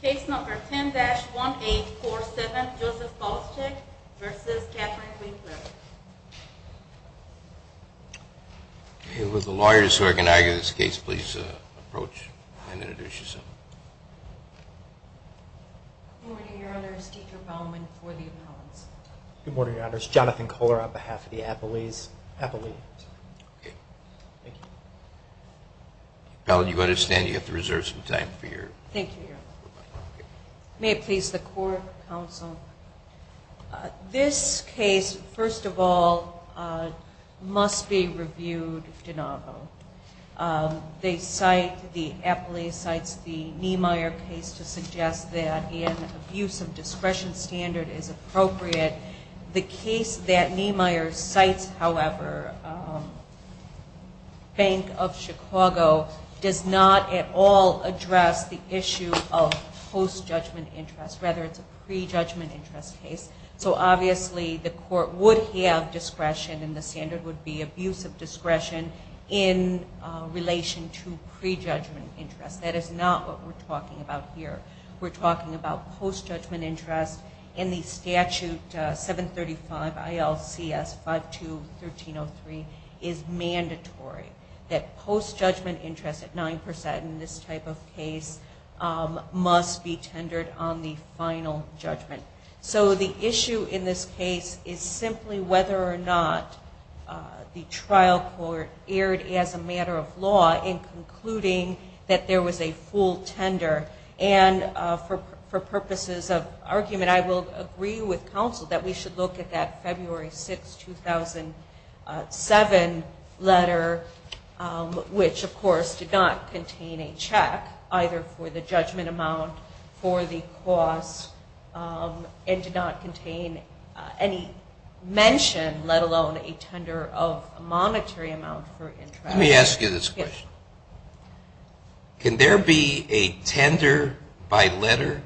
Case number 10-1847, Joseph Poliszczuk v. Catherine Winkler. Okay, would the lawyers who are going to argue this case please approach and introduce yourself. Good morning, Your Honors. Deidre Bowman for the appellants. Good morning, Your Honors. Jonathan Kohler on behalf of the appellees. Okay. Thank you. Appellant, you've got to stand. You have to reserve some time for your... Thank you, Your Honor. May it please the Court, Counsel. This case, first of all, must be reviewed de novo. They cite, the appellee cites the Niemeyer case to suggest that an abuse of discretion standard is appropriate. The case that Niemeyer cites, however, Bank of Chicago, does not at all address the issue of post-judgment interest. Rather, it's a pre-judgment interest case. So, obviously, the Court would have discretion and the standard would be abuse of discretion in relation to pre-judgment interest. That is not what we're talking about here. We're talking about post-judgment interest in the statute 735 ILCS 52-1303 is mandatory. That post-judgment interest at 9% in this type of case must be tendered on the final judgment. So the issue in this case is simply whether or not the trial court erred as a matter of law in concluding that there was a full tender. And for purposes of argument, I will agree with Counsel that we should look at that February 6, 2007 letter, which, of course, did not contain a check, either for the judgment amount, for the cost, and did not contain any mention, let alone a tender of a monetary amount for interest. Let me ask you this question. Can there be a tender by letter,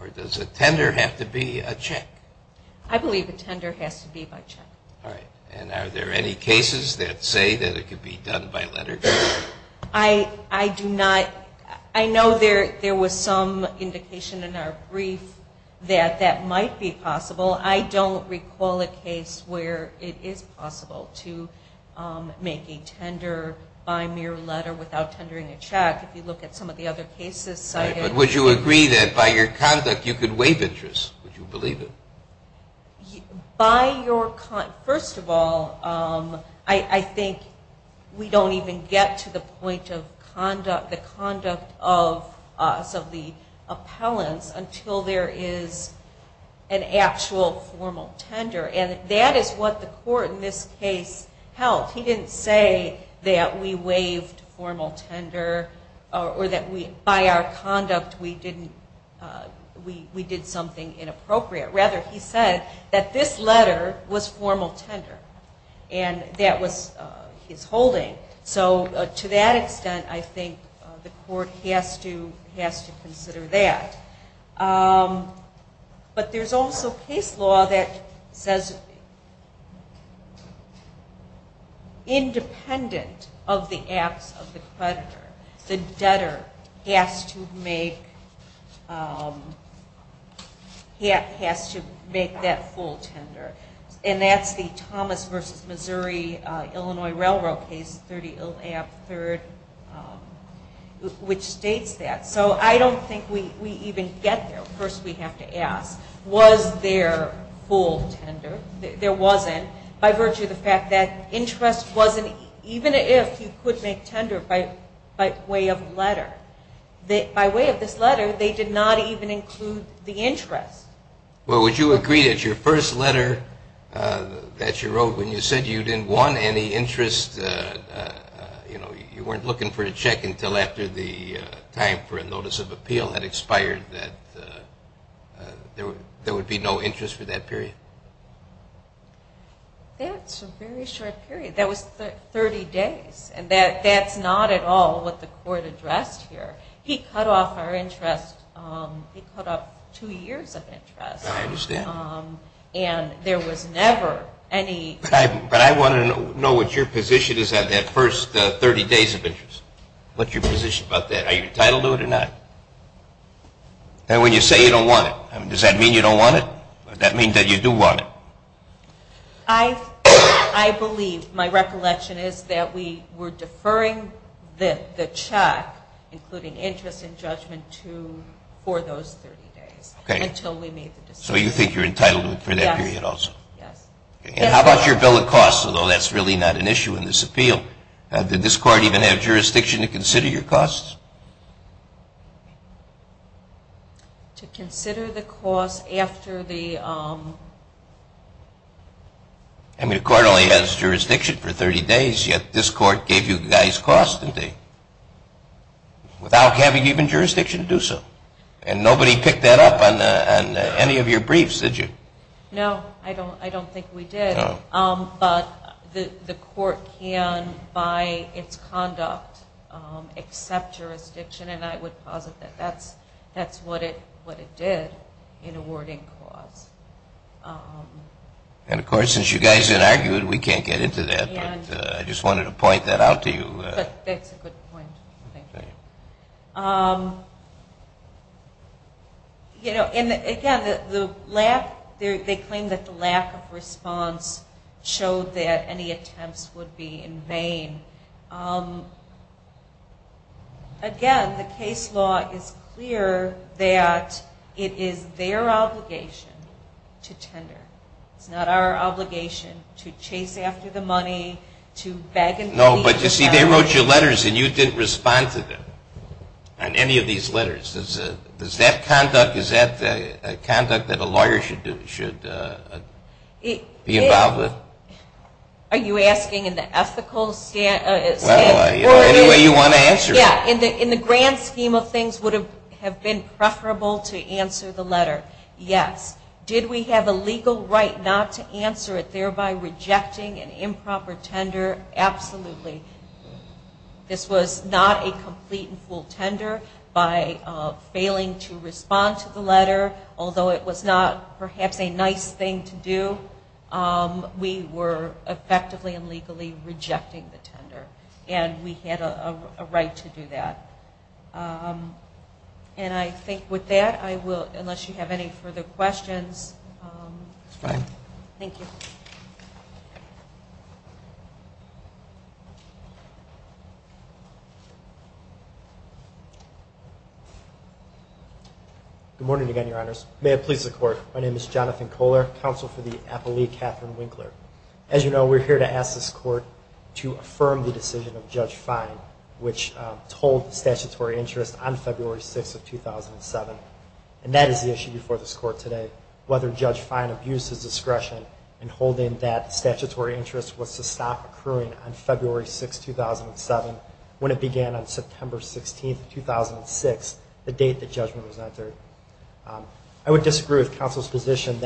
or does a tender have to be a check? I believe a tender has to be by check. All right. And are there any cases that say that it could be done by letter? I do not. I know there was some indication in our brief that that might be possible. I don't recall a case where it is possible to make a tender by mere letter without tendering a check. If you look at some of the other cases. All right. But would you agree that by your conduct you could waive interest? Would you believe it? First of all, I think we don't even get to the point of the conduct of us, of the appellants, until there is an actual formal tender. And that is what the court in this case held. He didn't say that we waived formal tender or that by our conduct we did something inappropriate. Rather, he said that this letter was formal tender, and that was his holding. So to that extent, I think the court has to consider that. But there's also case law that says independent of the acts of the creditor, the debtor has to make that full tender. And that's the Thomas v. Missouri-Illinois Railroad case, 30 Ab. 3rd, which states that. So I don't think we even get there. First we have to ask, was there full tender? There wasn't. By virtue of the fact that interest wasn't even if you could make tender by way of letter. By way of this letter, they did not even include the interest. Well, would you agree that your first letter that you wrote when you said you didn't want any interest, you weren't looking for a check until after the time for a notice of appeal had expired, that there would be no interest for that period? That's a very short period. That was 30 days, and that's not at all what the court addressed here. He cut off our interest. He cut off two years of interest. I understand. And there was never any type of – But I want to know what your position is on that first 30 days of interest. What's your position about that? Are you entitled to it or not? And when you say you don't want it, does that mean you don't want it? Does that mean that you do want it? I believe my recollection is that we were deferring the check, including interest and judgment, for those 30 days until we made the decision. So you think you're entitled to it for that period also? Yes. And how about your bill of costs, although that's really not an issue in this appeal? Did this court even have jurisdiction to consider your costs? To consider the costs after the – I mean, the court only has jurisdiction for 30 days, yet this court gave you guys costs, didn't they? Without having even jurisdiction to do so. And nobody picked that up on any of your briefs, did you? No, I don't think we did. No. But the court can, by its conduct, accept jurisdiction, and I would posit that that's what it did in awarding costs. And, of course, since you guys had argued, we can't get into that, but I just wanted to point that out to you. That's a good point. Thank you. You know, and, again, the lack – they claim that the lack of response showed that any attempts would be in vain. Again, the case law is clear that it is their obligation to tender. It's not our obligation to chase after the money, to beg – No, but you see, they wrote you letters and you didn't respond to them on any of these letters. Does that conduct – is that conduct that a lawyer should be involved with? Are you asking in the ethical – Well, any way you want to answer it. Yeah, in the grand scheme of things, would it have been preferable to answer the letter? Yes. Did we have a legal right not to answer it, thereby rejecting an improper tender? Absolutely. This was not a complete and full tender. By failing to respond to the letter, although it was not perhaps a nice thing to do, we were effectively and legally rejecting the tender, and we had a right to do that. And I think with that, I will – unless you have any further questions. It's fine. Thank you. Good morning again, Your Honors. May it please the Court, my name is Jonathan Koehler, counsel for the appellee Catherine Winkler. As you know, we're here to ask this Court to affirm the decision of Judge Fine, which told the statutory interest on February 6th of 2007, and that is the issue before this Court today, whether Judge Fine abused his discretion in holding that the statutory interest was to stop accruing on February 6th, 2007, when it began on September 16th, 2006, the date the judgment was entered. I would disagree with counsel's position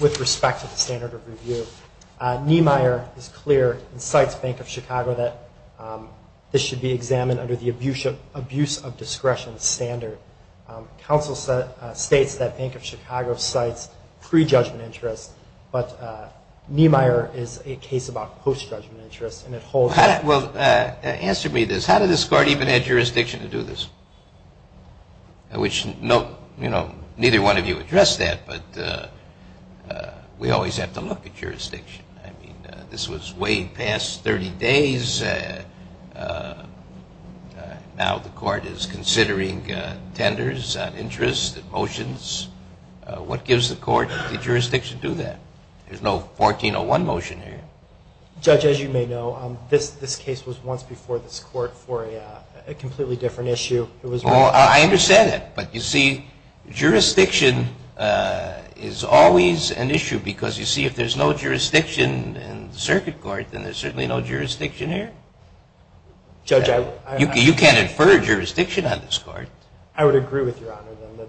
with respect to the standard of review. Niemeyer is clear, and cites Bank of Chicago, that this should be examined under the abuse of discretion standard. Counsel states that Bank of Chicago cites pre-judgment interest, but Niemeyer is a case about post-judgment interest, and it holds – Well, answer me this. How did this Court even add jurisdiction to do this? Which, you know, neither one of you addressed that, but we always have to look at jurisdiction. I mean, this was way past 30 days. Now the Court is considering tenders, interests, motions. What gives the Court the jurisdiction to do that? There's no 1401 motion here. Judge, as you may know, this case was once before this Court for a completely different issue. I understand that, but, you see, jurisdiction is always an issue because, you see, if there's no jurisdiction in the circuit court, then there's certainly no jurisdiction here. Judge, I – You can't infer jurisdiction on this Court. I would agree with Your Honor that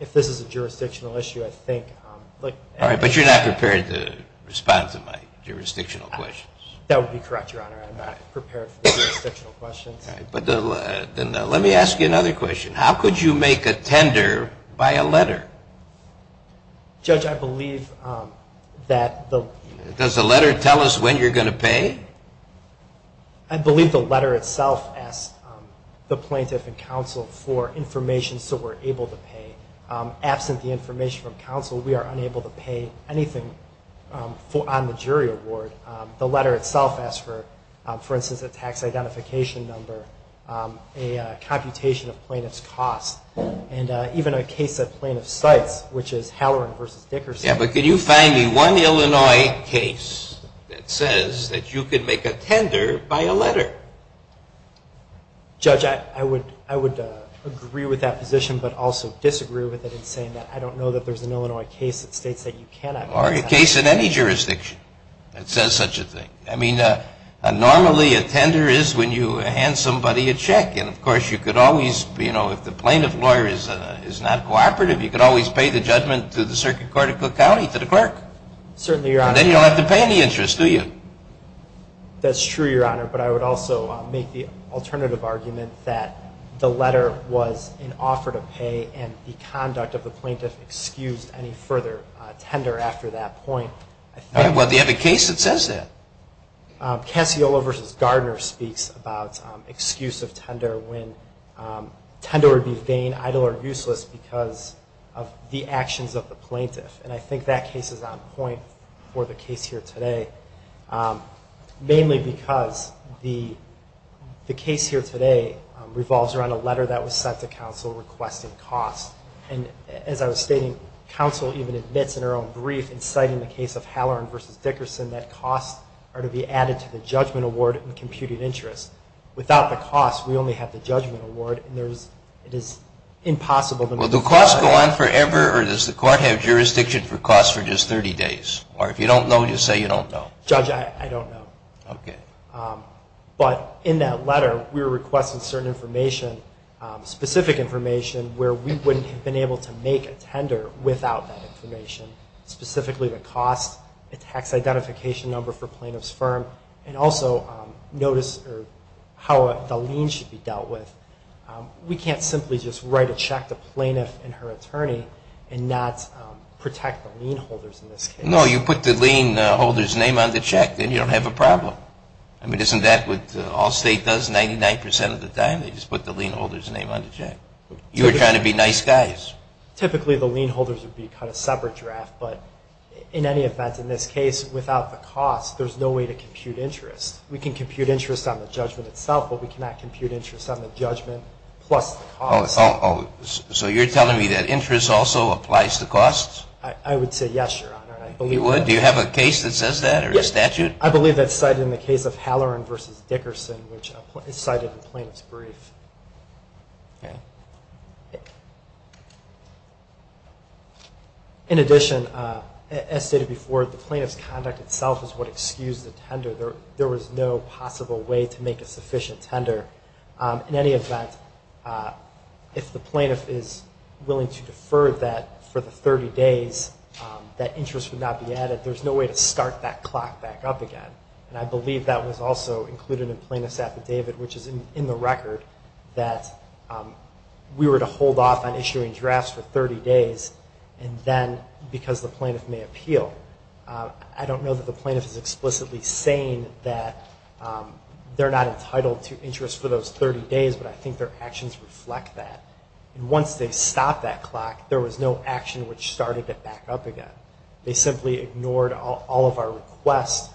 if this is a jurisdictional issue, I think – All right, but you're not prepared to respond to my jurisdictional questions. That would be correct, Your Honor. I'm not prepared for jurisdictional questions. All right. Then let me ask you another question. How could you make a tender by a letter? Judge, I believe that the – Does the letter tell us when you're going to pay? I believe the letter itself asks the plaintiff and counsel for information so we're able to pay. Absent the information from counsel, we are unable to pay anything on the jury award. The letter itself asks for, for instance, a tax identification number, a computation of plaintiff's cost, and even a case that plaintiff cites, which is Halloran v. Dickerson. Yeah, but can you find me one Illinois case that says that you can make a tender by a letter? Judge, I would agree with that position but also disagree with it in saying that I don't know that there's an Illinois case that states that you cannot make a tender. Or a case in any jurisdiction that says such a thing. I mean, normally a tender is when you hand somebody a check. And, of course, you could always, you know, if the plaintiff lawyer is not cooperative, you could always pay the judgment to the Circuit Court of Cook County, to the clerk. Certainly, Your Honor. Then you don't have to pay any interest, do you? That's true, Your Honor. But I would also make the alternative argument that the letter was an offer to pay and the conduct of the plaintiff excused any further tender after that point. All right. Well, do you have a case that says that? Cassiola v. Gardner speaks about excuse of tender when tender would be vain, idle, or useless because of the actions of the plaintiff. And I think that case is on point for the case here today, mainly because the case here today revolves around a letter that was sent to counsel requesting costs. And as I was stating, counsel even admits in her own brief in citing the case of Halloran v. Dickerson that costs are to be added to the judgment award and computed interest. Without the cost, we only have the judgment award, and it is impossible to make a decision. Well, do costs go on forever, or does the court have jurisdiction for costs for just 30 days? Or if you don't know, just say you don't know. Judge, I don't know. Okay. But in that letter, we were requested certain information, specific information, where we wouldn't have been able to make a tender without that information, specifically the cost, the tax identification number for plaintiff's firm, and also notice how the lien should be dealt with. We can't simply just write a check to plaintiff and her attorney and not protect the lien holders in this case. No, you put the lien holder's name on the check. Then you don't have a problem. I mean, isn't that what Allstate does 99% of the time? They just put the lien holder's name on the check. You were trying to be nice guys. Typically, the lien holders would be kind of separate draft, but in any event, in this case, without the cost, there's no way to compute interest. We can compute interest on the judgment itself, but we cannot compute interest on the judgment plus the cost. So you're telling me that interest also applies to costs? I would say yes, Your Honor. You would? Do you have a case that says that or a statute? I believe that's cited in the case of Halloran v. Dickerson, which is cited in plaintiff's brief. Okay. In addition, as stated before, the plaintiff's conduct itself is what excused the tender. There was no possible way to make a sufficient tender. In any event, if the plaintiff is willing to defer that for the 30 days, that interest would not be added. There's no way to start that clock back up again, and I believe that was also included in plaintiff's affidavit, which is in the record that we were to hold off on issuing drafts for 30 days, and then because the plaintiff may appeal. I don't know that the plaintiff is explicitly saying that they're not entitled to interest for those 30 days, but I think their actions reflect that. And once they stopped that clock, there was no action which started it back up again. They simply ignored all of our requests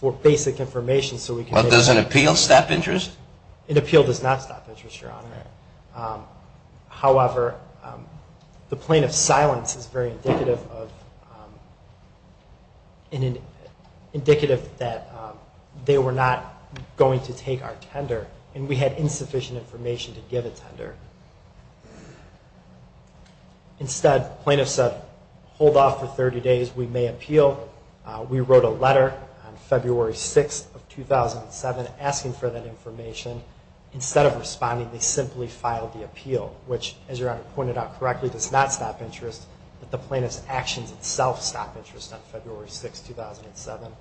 for basic information so we could make it up. But does an appeal stop interest? An appeal does not stop interest, Your Honor. However, the plaintiff's silence is very indicative that they were not going to take our tender, Instead, the plaintiff said, hold off for 30 days. We may appeal. We wrote a letter on February 6th of 2007 asking for that information. Instead of responding, they simply filed the appeal, which, as Your Honor pointed out correctly, does not stop interest, but the plaintiff's actions themselves stop interest on February 6th, 2007.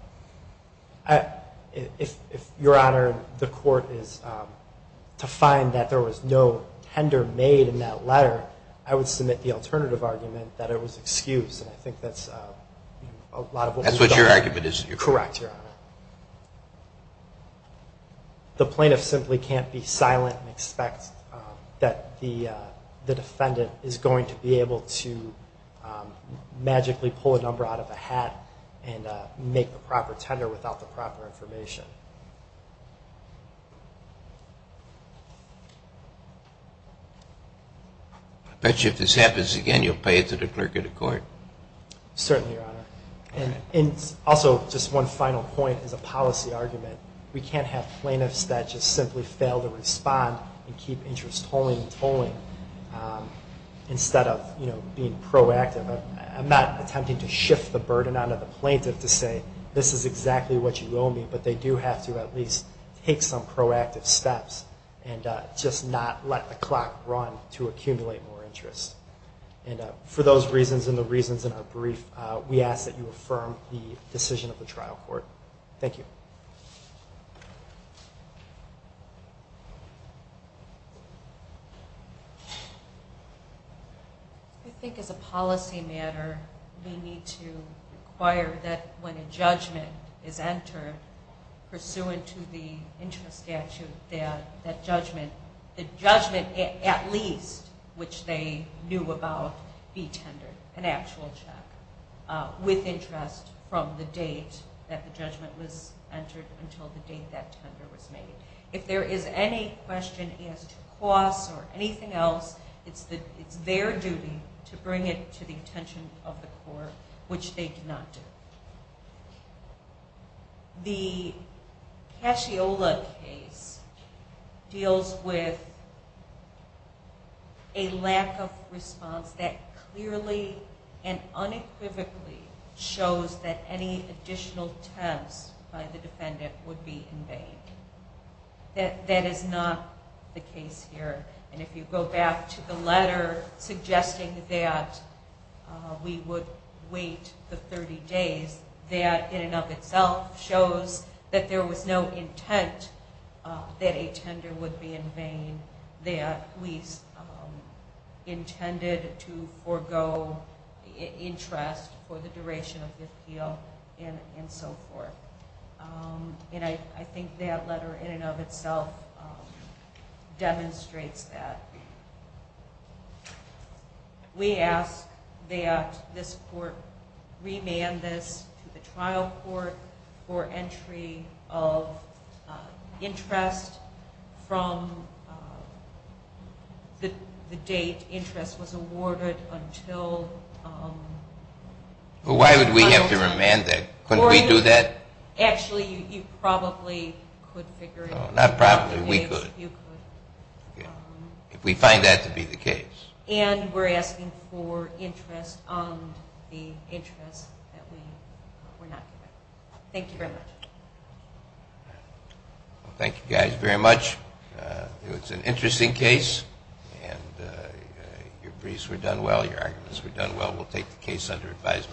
If, Your Honor, the court is to find that there was no tender made in that letter, I would submit the alternative argument that it was excused, and I think that's a lot of what we've done. That's what your argument is, Your Honor. Correct, Your Honor. The plaintiff simply can't be silent and expect that the defendant is going to be able to magically pull a number out of a hat and make the proper tender without the proper information. I bet you if this happens again, you'll pay it to the clerk of the court. Certainly, Your Honor. And also, just one final point as a policy argument, we can't have plaintiffs that just simply fail to respond and keep interest tolling and tolling. Instead of being proactive, I'm not attempting to shift the burden onto the plaintiff to say, this is exactly what you owe me, but they do have to at least take some proactive steps and just not let the clock run to accumulate more interest. And for those reasons and the reasons in our brief, we ask that you affirm the decision of the trial court. Thank you. I think as a policy matter, we need to require that when a judgment is entered, pursuant to the interest statute, that the judgment at least, which they knew about, be tendered, an actual check with interest from the date that the judgment was entered until the date that tender was made. If there is any question as to costs or anything else, it's their duty to bring it to the attention of the court, which they did not do. The Casciola case deals with a lack of response that clearly and unequivocally shows that any additional temps by the defendant would be in vain. That is not the case here. And if you go back to the letter suggesting that we would wait the 30 days, that in and of itself shows that there was no intent that a tender would be in vain, that we intended to forego interest for the duration of the appeal and so forth. And I think that letter in and of itself demonstrates that. We ask that this court remand this to the trial court for entry of interest from the date interest was awarded until... Why would we have to remand that? Couldn't we do that? Actually, you probably could figure it out. Not probably, we could. If we find that to be the case. And we're asking for interest on the interest that we were not given. Thank you very much. Thank you guys very much. It was an interesting case and your briefs were done well, your arguments were done well. We'll take the case under advisement.